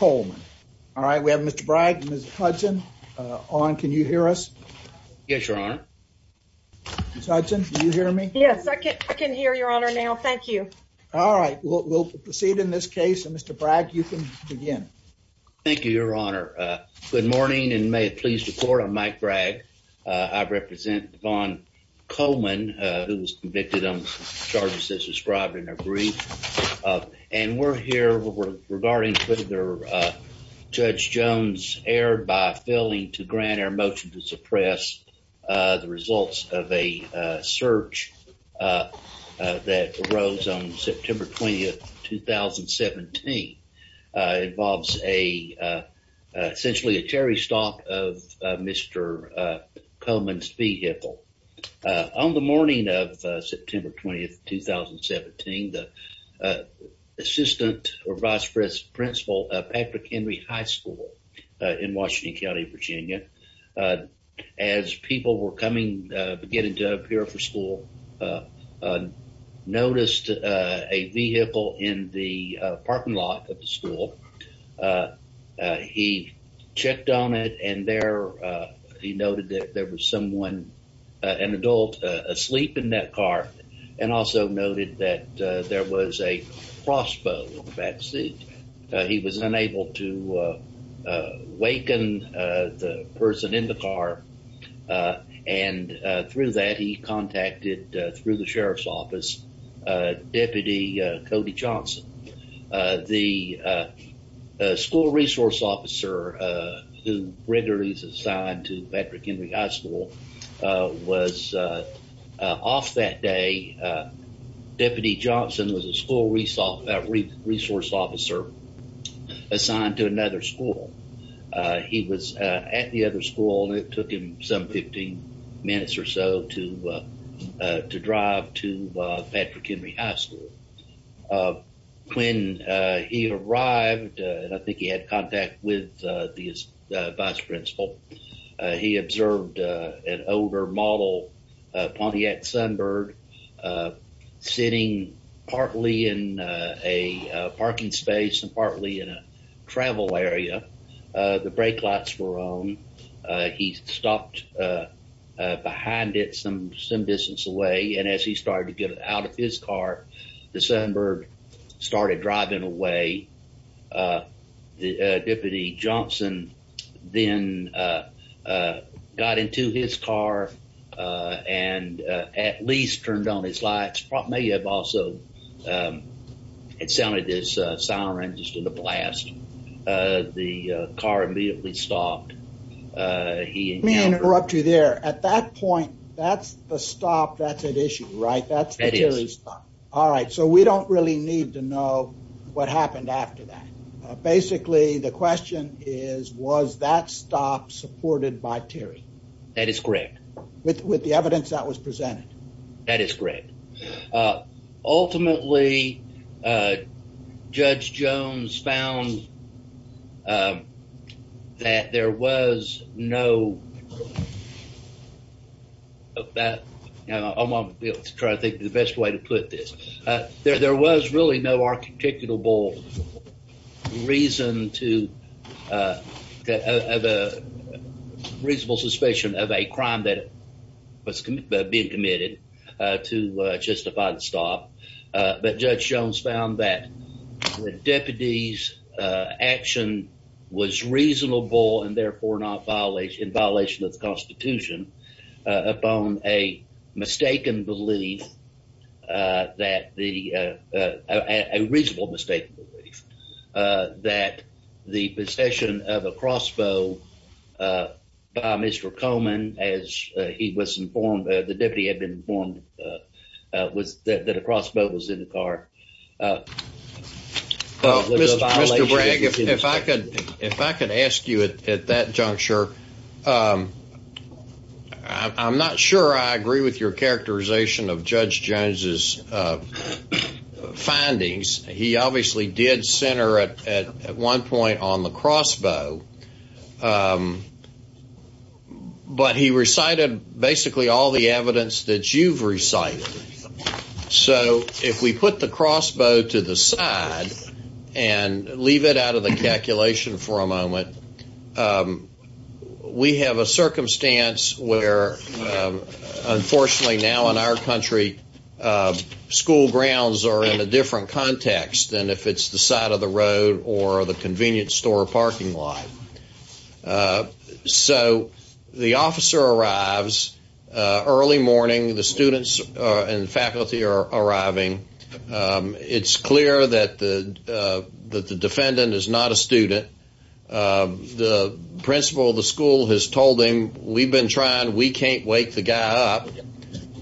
All right, we have Mr. Bragg and Mr. Hudson on. Can you hear us? Yes, your honor. Mr. Hudson, can you hear me? Yes, I can. I can hear your honor now. Thank you. All right, we'll proceed in this case. And Mr. Bragg, you can begin. Thank you, your honor. Good morning and may it please the court. I'm Mike Bragg. I represent Devon Coleman, who was convicted on charges as described in their brief. And we're here regarding whether Judge Jones erred by failing to grant our motion to suppress the results of a search that arose on September 20th, 2017. It involves a, essentially a cherry stalk of Mr. Coleman's vehicle. On the morning of September 20th, 2017, the assistant or vice principal of Patrick Henry High School in Washington County, Virginia, as people were coming, beginning to appear for school, noticed a vehicle in the parking lot of the school. He checked on it and there he noted that there was someone, an adult, asleep in that car and also noted that there was a crossbow in the backseat. He was unable to waken the person in the car. And through that, he contacted, through the sheriff's office, Deputy Cody Johnson, the school resource officer who regularly is assigned to Patrick Henry High School, was off that day. Deputy Johnson was a school resource officer assigned to another school. He was at the other school and it took him some 15 minutes or so to drive to Patrick Henry High School. When he arrived, and I think he had contact with the vice principal, he observed an older model Pontiac Sunbird sitting partly in a parking space and partly in a travel area. The brake lights were on. He stopped behind it some distance away. And as he started to get out of his car, the Sunbird started driving away. Deputy Johnson then got into his car and at least turned on his lights. May have also, it sounded this siren just in the blast. The car immediately stopped. He encountered... Let me interrupt you there. At that point, that's the stop that's at issue, right? That's the Terry stop. That is. All right. So we don't really need to know what happened after that. Basically, the question is, was that stop supported by Terry? That is correct. With the evidence that was presented? That is correct. Ultimately, Judge Jones found that there was no... ...of a crime that was being committed to justify the stop. But Judge Jones found that the deputy's action was reasonable and therefore not in violation of the Constitution upon a mistaken belief that the... ...he was informed, the deputy had been informed that a crossbow was in the car. Mr. Bragg, if I could ask you at that juncture, I'm not sure I agree with your characterization of Judge Jones's findings. He obviously did center at one point on the crossbow, but he recited basically all the evidence that you've recited. So if we put the crossbow to the side and leave it out of the calculation for a moment, we have a circumstance where unfortunately now in our country, school grounds are in a different context than if it's the side of the road or the convenience store parking lot. So the officer arrives early morning, the students and faculty are arriving. It's clear that the defendant is not a student. The principal of the school has told him, we've been trying, we can't wake the guy up.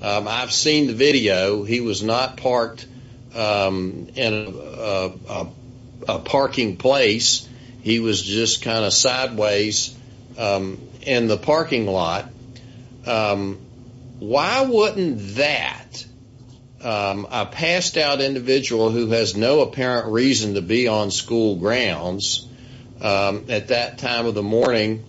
I've seen the video. He was not parked in a parking place. He was just kind of sideways in the parking lot. Why wouldn't that, a passed out individual who has no apparent reason to be on school grounds at that time of the morning,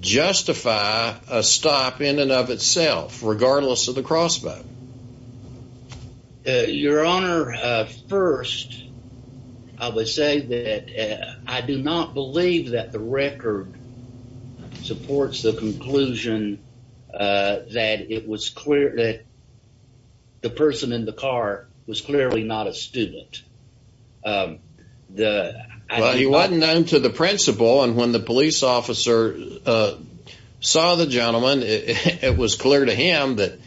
justify a stop in and of itself, regardless of the crossbow? Your Honor, first, I would say that I do not believe that the record supports the conclusion that it was clear that the person in the car was clearly not a student. Well, he wasn't known to the principal. And when the police officer saw the gentleman, it was clear to him that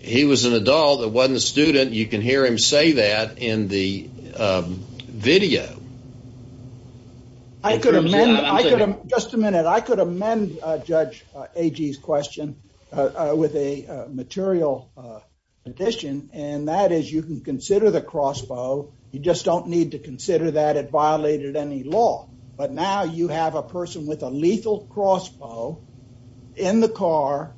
he was an adult that wasn't a student. You can hear him say that in the video. I could amend, just a minute, I could amend Judge Agee's question with a material addition, and that is you can consider the crossbow. You just don't need to consider that it violated any law. But now you have a person with a lethal crossbow in the car.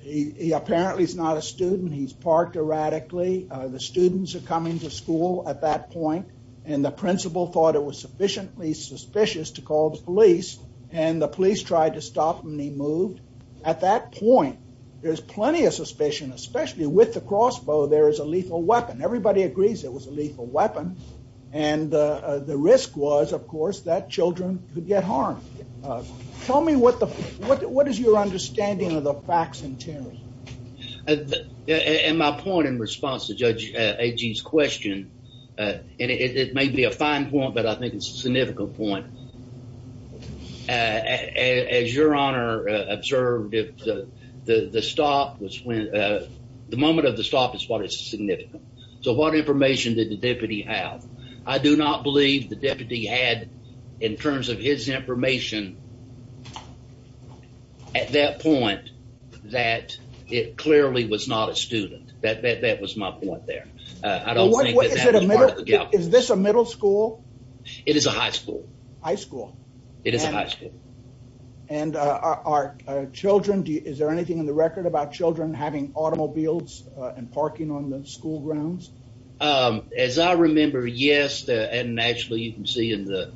He apparently is not a student. He's parked erratically. The students are coming to school at that point. And the principal thought it was sufficiently suspicious to call the police. And the police tried to stop him and he moved. At that point, there's plenty of suspicion, especially with the crossbow, there is a lethal weapon. Everybody agrees it was a lethal weapon. And the risk was, of course, that children could get harmed. Tell me what is your understanding of the facts in terms? And my point in response to Judge Agee's question, and it may be a fine point, but I think it's a significant point. As your honor observed, the stop was when the moment of the stop is what is significant. So what information did the deputy have? I do not believe the deputy had, in terms of his information, at that point, that it clearly was not a student. That was my point there. Is this a middle school? It is a high school. High school. It is a high school. And are children, is there anything in the record about children having automobiles and parking on the school grounds? As I remember, yes. And actually, you can see in the,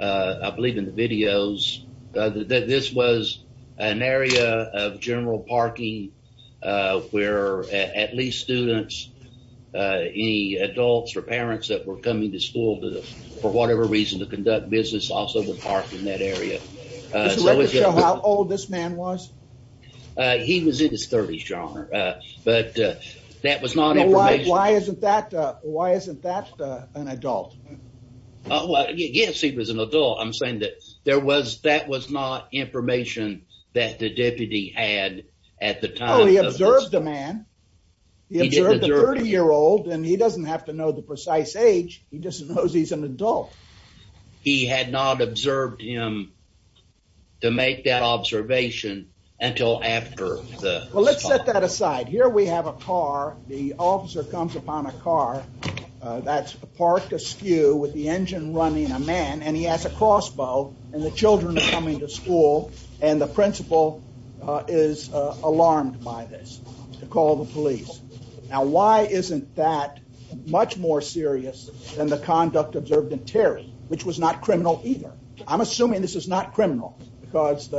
I believe, in the videos that this was an area of general parking where at least students, any adults or parents that were coming to school for whatever reason to conduct business also would park in that area. Would you like to show how old this man was? He was in his 30s, your honor. But that was not information. Why isn't that an adult? Yes, he was an adult. I'm saying that that was not information that the deputy had at the time. Oh, he observed the man. He observed the 30-year-old, and he doesn't have to know the precise age. He just knows he's an adult. He had not observed him to make that observation until after the stop. Well, let's set that aside. Here we have a car. The officer comes upon a car that's parked askew with the engine running a man and he has a crossbow and the children are coming to school. And the principal is alarmed by this to call the police. Now, why isn't that much more serious than the conduct observed in Terry, which was not criminal either? I'm assuming this is not criminal because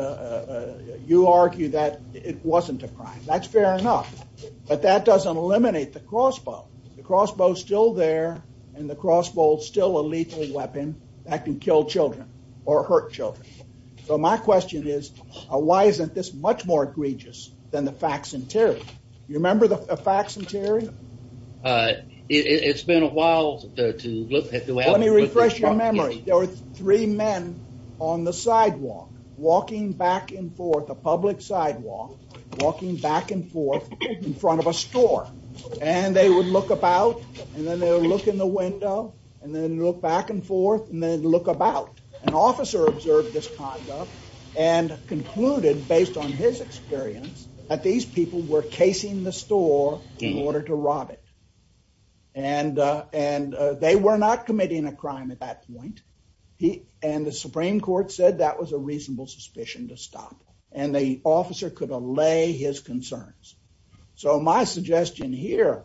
you argue that it wasn't a crime. That's fair enough. But that doesn't eliminate the crossbow. The crossbow is still there and the crossbow is still a lethal weapon that can kill children or hurt children. So my question is, why isn't this much more egregious than the facts in Terry? You remember the facts in Terry? It's been a while to look at the way. Let me refresh your memory. There were three men on the sidewalk, walking back and forth, a public sidewalk, walking back and forth in front of a store. And they would look about and then they'll look in the window and then look back and forth and then look about. An officer observed this conduct and concluded, based on his experience, that these people were casing the store in order to rob it. And and they were not committing a crime at that point. He and the Supreme Court said that was a reasonable suspicion to stop and the officer could allay his concerns. So my suggestion here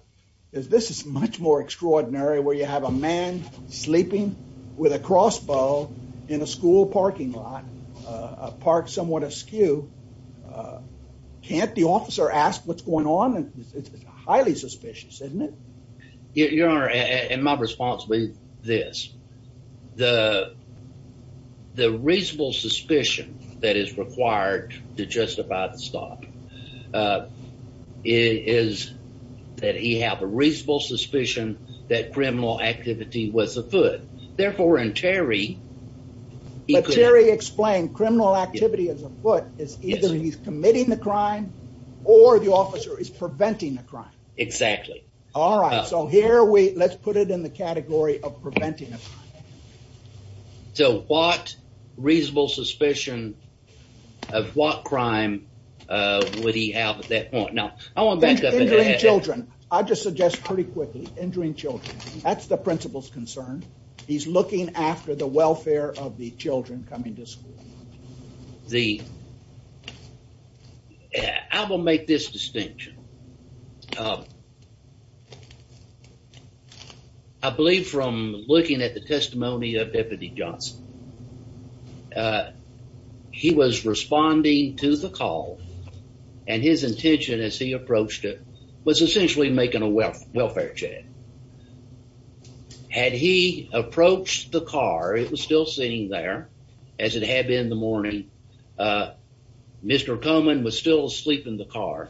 is this is much more extraordinary where you have a man sleeping with a crossbow in a school parking lot, a park somewhat askew. Can't the officer ask what's going on? It's highly suspicious, isn't it? Your Honor, and my response would be this. The reasonable suspicion that is required to justify the stop is that he had a reasonable suspicion that criminal activity was afoot. Therefore, in Terry, he could. But Terry explained criminal activity as afoot is either he's committing the crime or the officer is preventing the crime. Exactly. All right. So here we let's put it in the category of preventing. So what reasonable suspicion of what crime would he have at that point? Now, I want back up. Children, I just suggest pretty quickly injuring children. That's the principal's concern. He's looking after the welfare of the children coming to school. The. I will make this distinction. I believe from looking at the testimony of Deputy Johnson. He was responding to the call and his intention as he approached it was essentially making a wealth welfare check. Had he approached the car, it was still sitting there as it had been in the morning. Mr. Coleman was still asleep in the car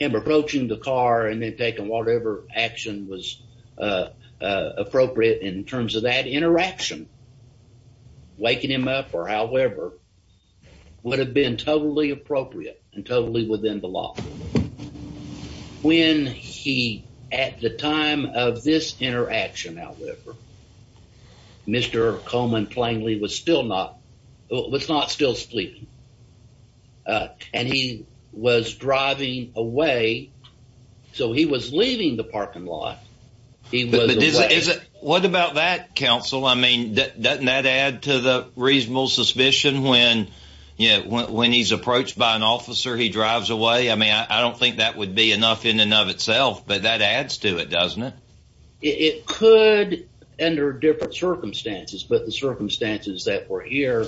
and approaching the car and then taking whatever action was appropriate in terms of that interaction. Waking him up or however would have been totally appropriate and totally within the law. When he at the time of this interaction, however. Mr. Coleman plainly was still not was not still sleep. And he was driving away. So he was leaving the parking lot. He was. What about that, counsel? I mean, doesn't that add to the reasonable suspicion when you know, when he's approached by an officer, he drives away. I mean, I don't think that would be enough in and of itself. But that adds to it, doesn't it? It could under different circumstances. But the circumstances that were here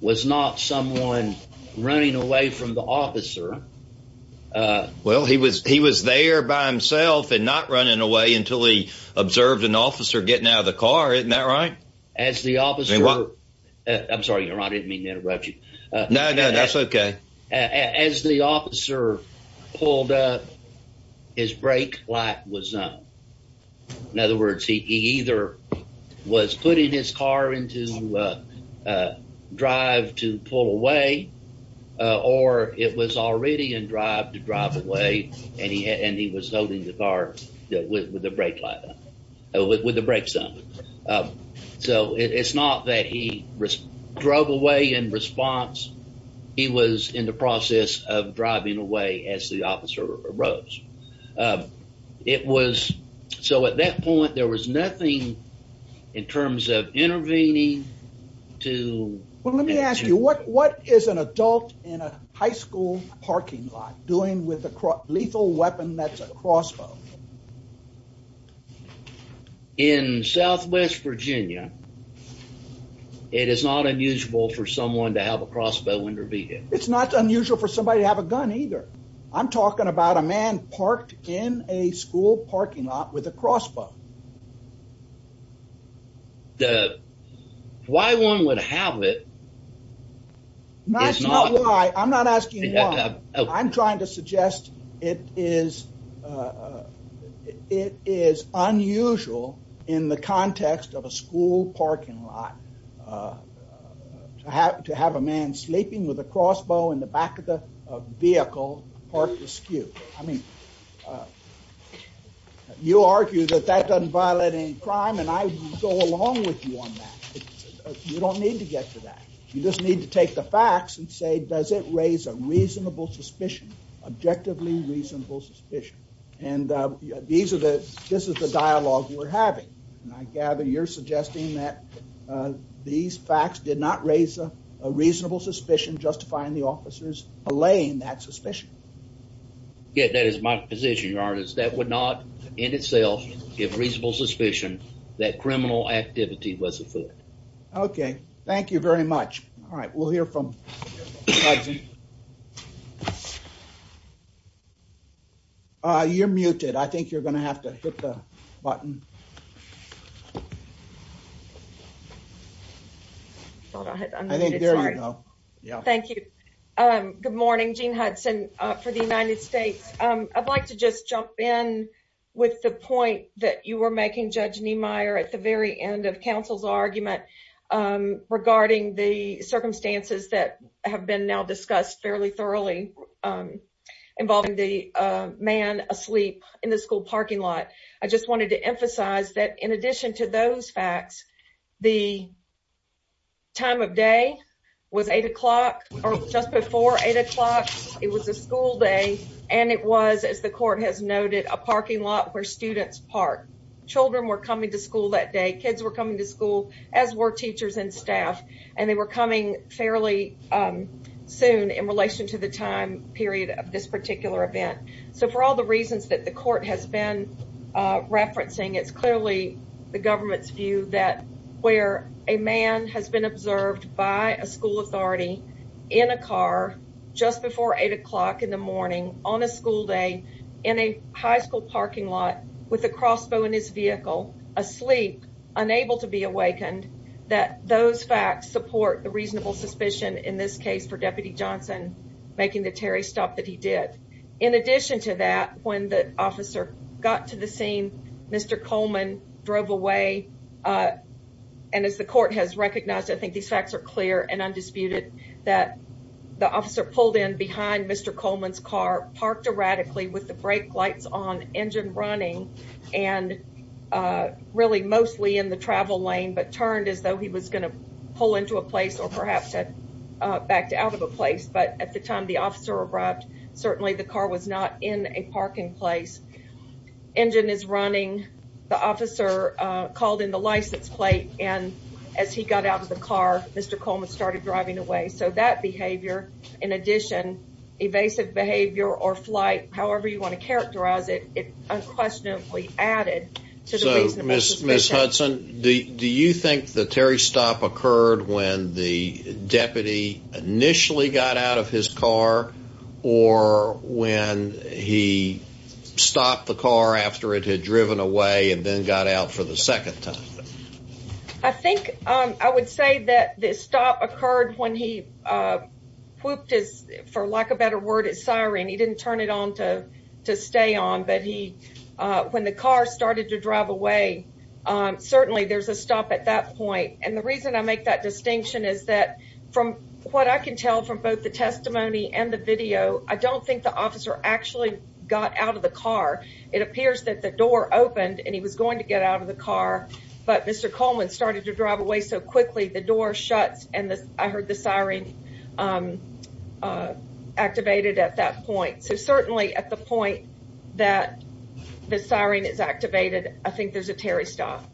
was not someone running away from the officer. Well, he was he was there by himself and not running away until he observed an officer getting out of the car. Isn't that right? As the officer. I'm sorry. I didn't mean to interrupt you. No, no, that's OK. As the officer pulled up, his brake light was on. In other words, he either was putting his car into a drive to pull away or it was already in drive to drive away. And he had and he was holding the car with the brake light with the brakes on. So it's not that he drove away in response. He was in the process of driving away as the officer arose. It was so at that point there was nothing in terms of intervening to. Well, let me ask you what what is an adult in a high school parking lot doing with a lethal weapon? That's a crossbow. In southwest Virginia, it is not unusual for someone to have a crossbow intervene. It's not unusual for somebody to have a gun either. I'm talking about a man parked in a school parking lot with a crossbow. The why one would have it. That's not why I'm not asking. I'm trying to suggest it is. It is unusual in the context of a school parking lot. I have to have a man sleeping with a crossbow in the back of the vehicle parked askew. I mean, you argue that that doesn't violate any crime and I go along with you on that. You don't need to get to that. You just need to take the facts and say, does it raise a reasonable suspicion? Objectively reasonable suspicion. And these are the this is the dialogue we're having. And I gather you're suggesting that these facts did not raise a reasonable suspicion, justifying the officers allaying that suspicion. Yeah, that is my position, your honor, is that would not in itself give reasonable suspicion that criminal activity was a foot. OK, thank you very much. All right. We'll hear from. You're muted, I think you're going to have to hit the button. I think there you go. Thank you. Good morning, Gene Hudson for the United States. I'd like to just jump in with the point that you were making, Judge Niemeyer, at the very end of counsel's argument regarding the circumstances that have been now discussed fairly thoroughly involving the man asleep in the school parking lot. I just wanted to emphasize that in addition to those facts, the. Time of day was eight o'clock or just before eight o'clock. It was a school day and it was, as the court has noted, a parking lot where students park. Children were coming to school that day. Kids were coming to school as were teachers and staff. And they were coming fairly soon in relation to the time period of this particular event. So for all the reasons that the court has been referencing, it's clearly the government's view that where a man has been observed by a school authority in a car just before eight o'clock in the morning on a school day. In a high school parking lot with a crossbow in his vehicle asleep, unable to be awakened that those facts support the reasonable suspicion in this case for Deputy Johnson making the Terry stop that he did. In addition to that, when the officer got to the scene, Mr. Coleman drove away. And as the court has recognized, I think these facts are clear and undisputed that the officer pulled in behind Mr. Coleman's car, parked erratically with the brake lights on, engine running and really mostly in the travel lane, but turned as though he was going to pull into a place or perhaps back out of a place. But at the time the officer arrived, certainly the car was not in a parking place. Engine is running. The officer called in the license plate and as he got out of the car, Mr. Coleman started driving away. So that behavior, in addition, evasive behavior or flight, however you want to characterize it, unquestionably added to the reasonable suspicion. So, Ms. Hudson, do you think the Terry stop occurred when the deputy initially got out of his car or when he stopped the car after it had driven away and then got out for the second time? I think I would say that this stop occurred when he whooped his, for lack of a better word, his siren. He didn't turn it on to to stay on. But he when the car started to drive away, certainly there's a stop at that point. And the reason I make that distinction is that from what I can tell from both the testimony and the video, I don't think the officer actually got out of the car. It appears that the door opened and he was going to get out of the car. But Mr. Coleman started to drive away so quickly, the door shuts and I heard the siren activated at that point. So certainly at the point that the siren is activated, I think there's a Terry stop.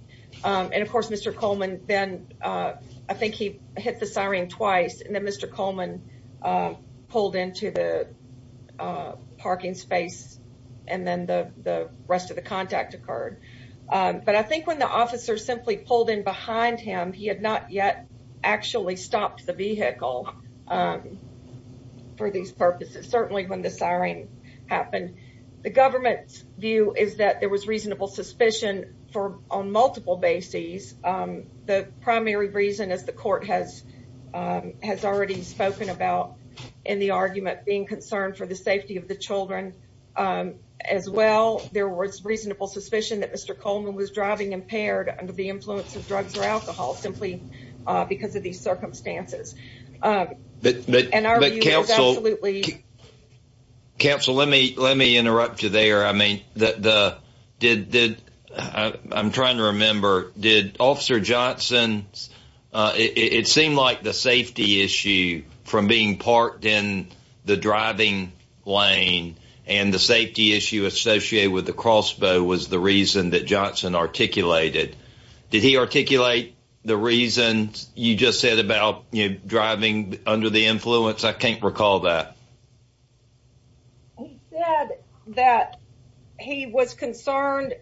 And of course, Mr. Coleman, then I think he hit the siren twice and then Mr. Coleman pulled into the parking space and then the rest of the contact occurred. But I think when the officer simply pulled in behind him, he had not yet actually stopped the vehicle for these purposes. Certainly when the siren happened, the government's view is that there was reasonable suspicion for on multiple bases. The primary reason, as the court has has already spoken about in the argument, being concerned for the safety of the children as well. There was reasonable suspicion that Mr. Coleman was driving impaired under the influence of drugs or alcohol simply because of these circumstances. But. Counsel, let me let me interrupt you there. I mean, the did did I'm trying to remember. Did Officer Johnson. It seemed like the safety issue from being parked in the driving lane and the safety issue associated with the crossbow was the reason that Johnson articulated. Did he articulate the reason you just said about driving under the influence? I can't recall that. He said that he was concerned.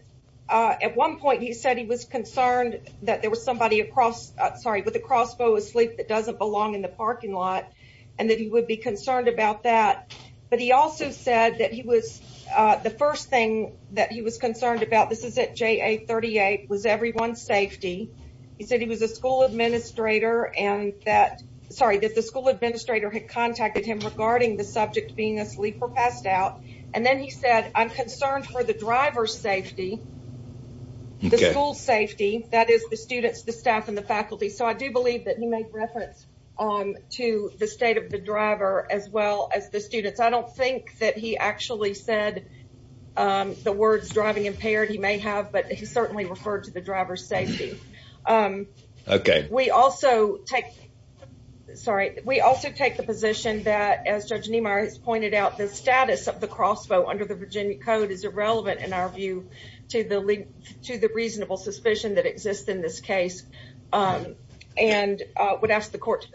At one point, he said he was concerned that there was somebody across. Sorry, but the crossbow asleep that doesn't belong in the parking lot and that he would be concerned about that. But he also said that he was the first thing that he was concerned about. This is it. J.A. 38 was everyone's safety. He said he was a school administrator and that sorry that the school administrator had contacted him regarding the subject being asleep or passed out. And then he said, I'm concerned for the driver's safety. The school safety that is the students, the staff and the faculty. So I do believe that he made reference to the state of the driver as well as the students. I don't think that he actually said the words driving impaired. He may have, but he certainly referred to the driver's safety. OK, we also take sorry. We also take the position that, as Judge Niemeyer has pointed out, the status of the crossbow under the Virginia code is irrelevant. And our view to the lead to the reasonable suspicion that exists in this case and would ask the court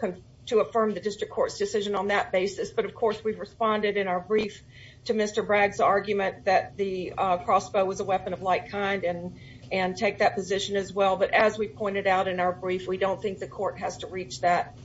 to affirm the district court's decision on that basis. But of course, we've responded in our brief to Mr. Bragg's argument that the crossbow was a weapon of like kind and and take that position as well. But as we pointed out in our brief, we don't think the court has to reach that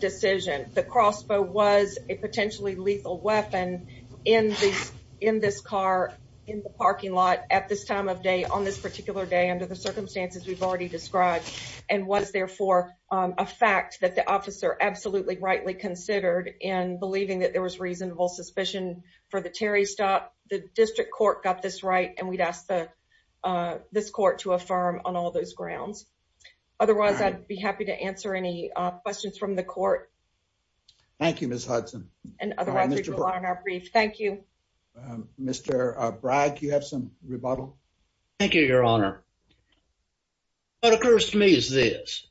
decision. The crossbow was a potentially lethal weapon in this in this car, in the parking lot at this time of day, on this particular day, under the circumstances we've already described. And was, therefore, a fact that the officer absolutely rightly considered in believing that there was reasonable suspicion for the Terry stop. The district court got this right. And we'd ask the this court to affirm on all those grounds. Otherwise, I'd be happy to answer any questions from the court. Thank you, Miss Hudson. And otherwise, on our brief. Thank you, Mr. Bragg. You have some rebuttal. Thank you, Your Honor. What occurs to me is this.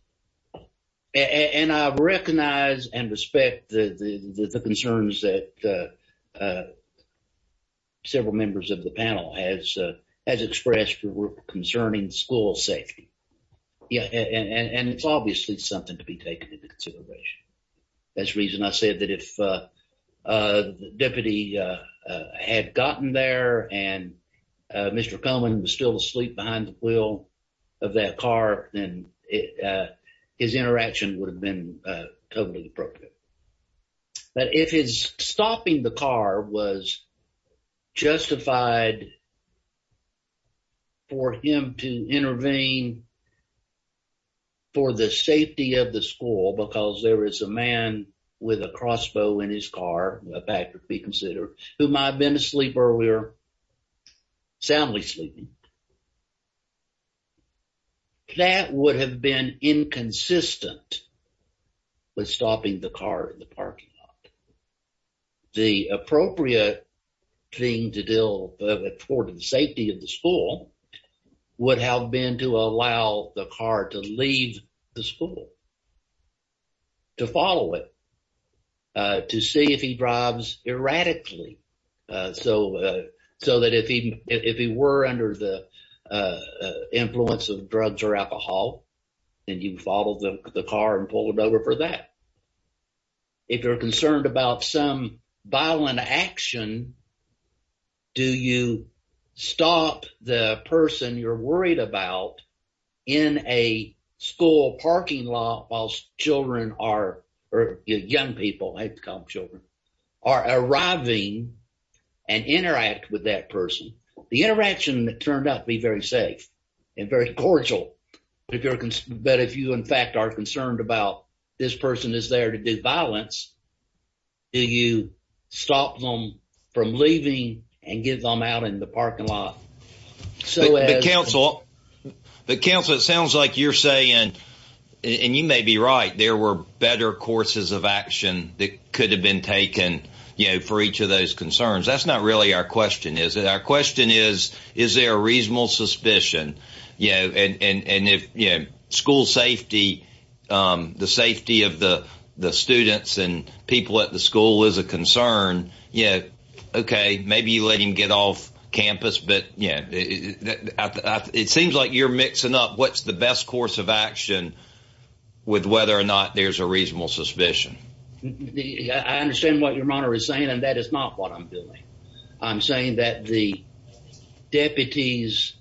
And I recognize and respect the concerns that several members of the panel has has expressed concerning school safety. Yeah. And it's obviously something to be taken into consideration. That's the reason I said that if the deputy had gotten there and Mr. Coleman was still asleep behind the wheel of that car, then his interaction would have been totally appropriate. But if his stopping the car was justified. For him to intervene. For the safety of the school, because there is a man with a crossbow in his car back would be considered who might have been asleep earlier. Soundly sleeping. That would have been inconsistent. With stopping the car in the parking lot. The appropriate thing to do for the safety of the school would have been to allow the car to leave the school. To follow it. To see if he drives erratically. So, so that if he, if he were under the influence of drugs or alcohol. And you follow the car and pull it over for that. If you're concerned about some violent action. Do you stop the person you're worried about. In a school parking lot, while children are young people have come children. Are arriving and interact with that person. The interaction that turned out to be very safe. And very cordial, but if you in fact are concerned about this person is there to do violence. Do you stop them from leaving and get them out in the parking lot. So, the council, it sounds like you're saying. And you may be right there were better courses of action that could have been taken for each of those concerns. That's not really our question is that our question is, is there a reasonable suspicion. And if school safety, the safety of the students and people at the school is a concern. Yeah. Okay. Maybe you let him get off campus. But yeah, it seems like you're mixing up. What's the best course of action with whether or not there's a reasonable suspicion. I understand what your honor is saying and that is not what I'm doing. I'm saying that the deputies.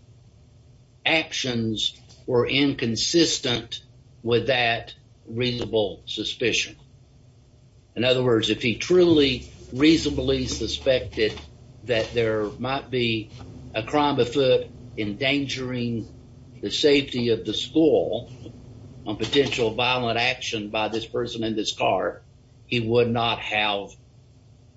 Actions were inconsistent with that reasonable suspicion. In other words, if he truly reasonably suspected that there might be a crime of foot. Endangering the safety of the school on potential violent action by this person in this car. He would not have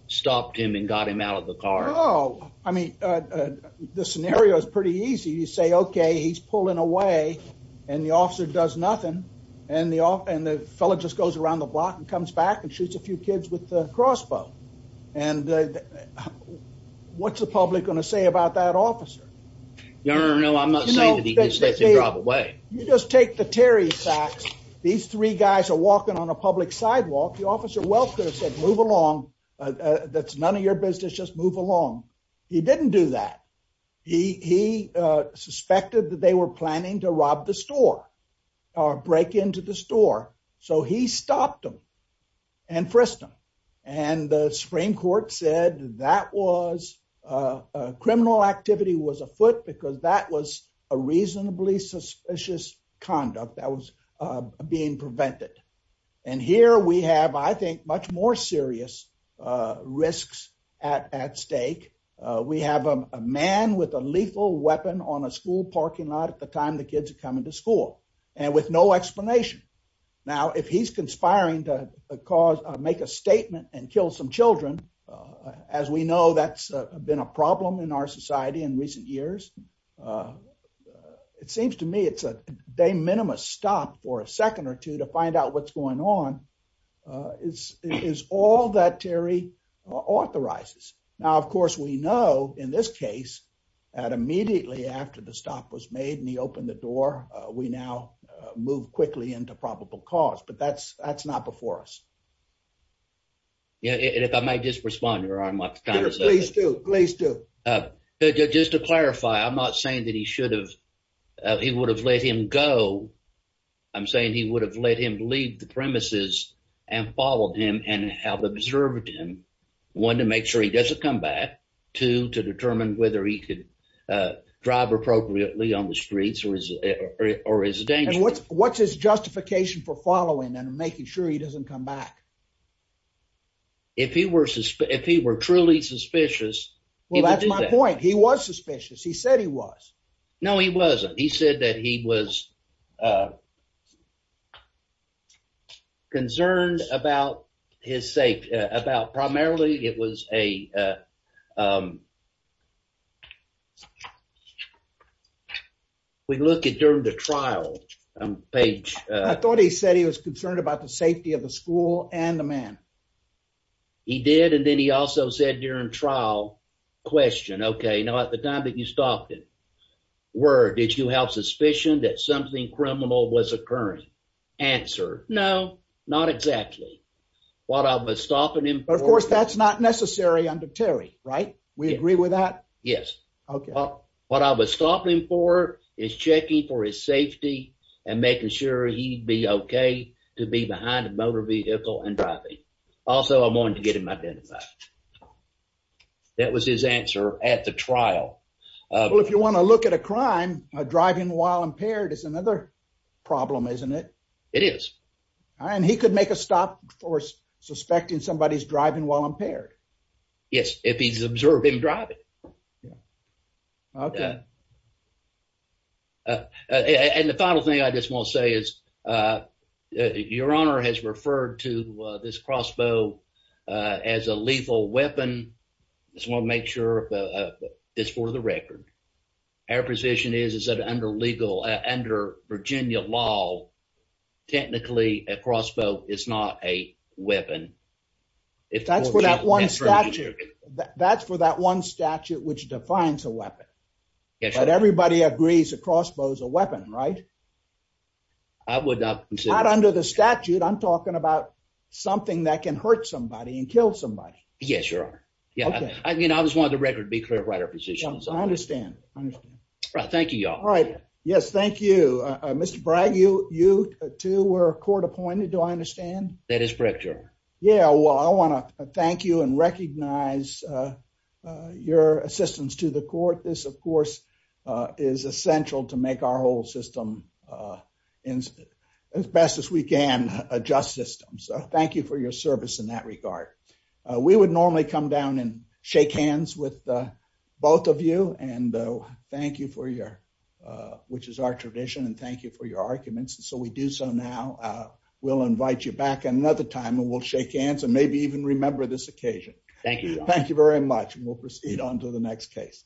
stopped him and got him out of the car. Oh, I mean, the scenario is pretty easy. You say, okay, he's pulling away. And the officer does nothing. And the off and the fellow just goes around the block and comes back and shoots a few kids with the crossbow. And what's the public going to say about that officer? No, no, no. I'm not saying that. You just take the Terry facts. These three guys are walking on a public sidewalk. The officer welfare said, move along. That's none of your business. Just move along. He didn't do that. He suspected that they were planning to rob the store or break into the store. So he stopped them and frisked them. And the Supreme Court said that criminal activity was afoot because that was a reasonably suspicious conduct that was being prevented. And here we have, I think, much more serious risks at stake. We have a man with a lethal weapon on a school parking lot at the time the kids are coming to school. And with no explanation. Now, if he's conspiring to make a statement and kill some children, as we know, that's been a problem in our society in recent years. It seems to me it's a de minimis stop for a second or two to find out what's going on is all that Terry authorizes. Now, of course, we know in this case that immediately after the stop was made and he opened the door, we now move quickly into probable cause. But that's that's not before us. Yeah. And if I might just respond to her, I'm like, please do. Please do. Just to clarify, I'm not saying that he should have. He would have let him go. I'm saying he would have let him leave the premises and followed him and have observed him. One, to make sure he doesn't come back to to determine whether he could drive appropriately on the streets or his or his. And what's what's his justification for following and making sure he doesn't come back? If he were if he were truly suspicious. Well, that's my point. He was suspicious. He said he was. No, he wasn't. He said that he was. Concerned about his safety, about primarily it was a. We look at during the trial page. I thought he said he was concerned about the safety of the school and the man. He did, and then he also said during trial question, OK. Now, at the time that you stopped it, where did you have suspicion that something criminal was occurring? Answer? No, not exactly what I was stopping him. Of course, that's not necessary under Terry. Right. We agree with that. Yes. What I was stopping for is checking for his safety and making sure he'd be OK to be behind a motor vehicle and driving. Also, I wanted to get him identified. That was his answer at the trial. Well, if you want to look at a crime, a driving while impaired is another problem, isn't it? It is. And he could make a stop for suspecting somebody's driving while impaired. Yes. If he's observing driving. OK. And the final thing I just want to say is your honor has referred to this crossbow as a lethal weapon. It's one make sure this for the record. Our position is that under legal under Virginia law, technically a crossbow is not a weapon. If that's without one statute, that's for that one statute which defines a weapon. Everybody agrees a crossbow is a weapon, right? I would not under the statute. I'm talking about something that can hurt somebody and kill somebody. Yes, your honor. Yeah. I mean, I just want the record to be clear about our positions. I understand. Thank you. All right. Yes. Thank you, Mr. Bragg. You, you two were court appointed. Do I understand? That is correct, your honor. Yeah. Well, I want to thank you and recognize your assistance to the court. This, of course, is essential to make our whole system as best as we can adjust system. So thank you for your service in that regard. We would normally come down and shake hands with both of you. And thank you for your which is our tradition. And thank you for your arguments. So we do. So now we'll invite you back another time and we'll shake hands and maybe even remember this occasion. Thank you. Thank you very much. And we'll proceed on to the next case.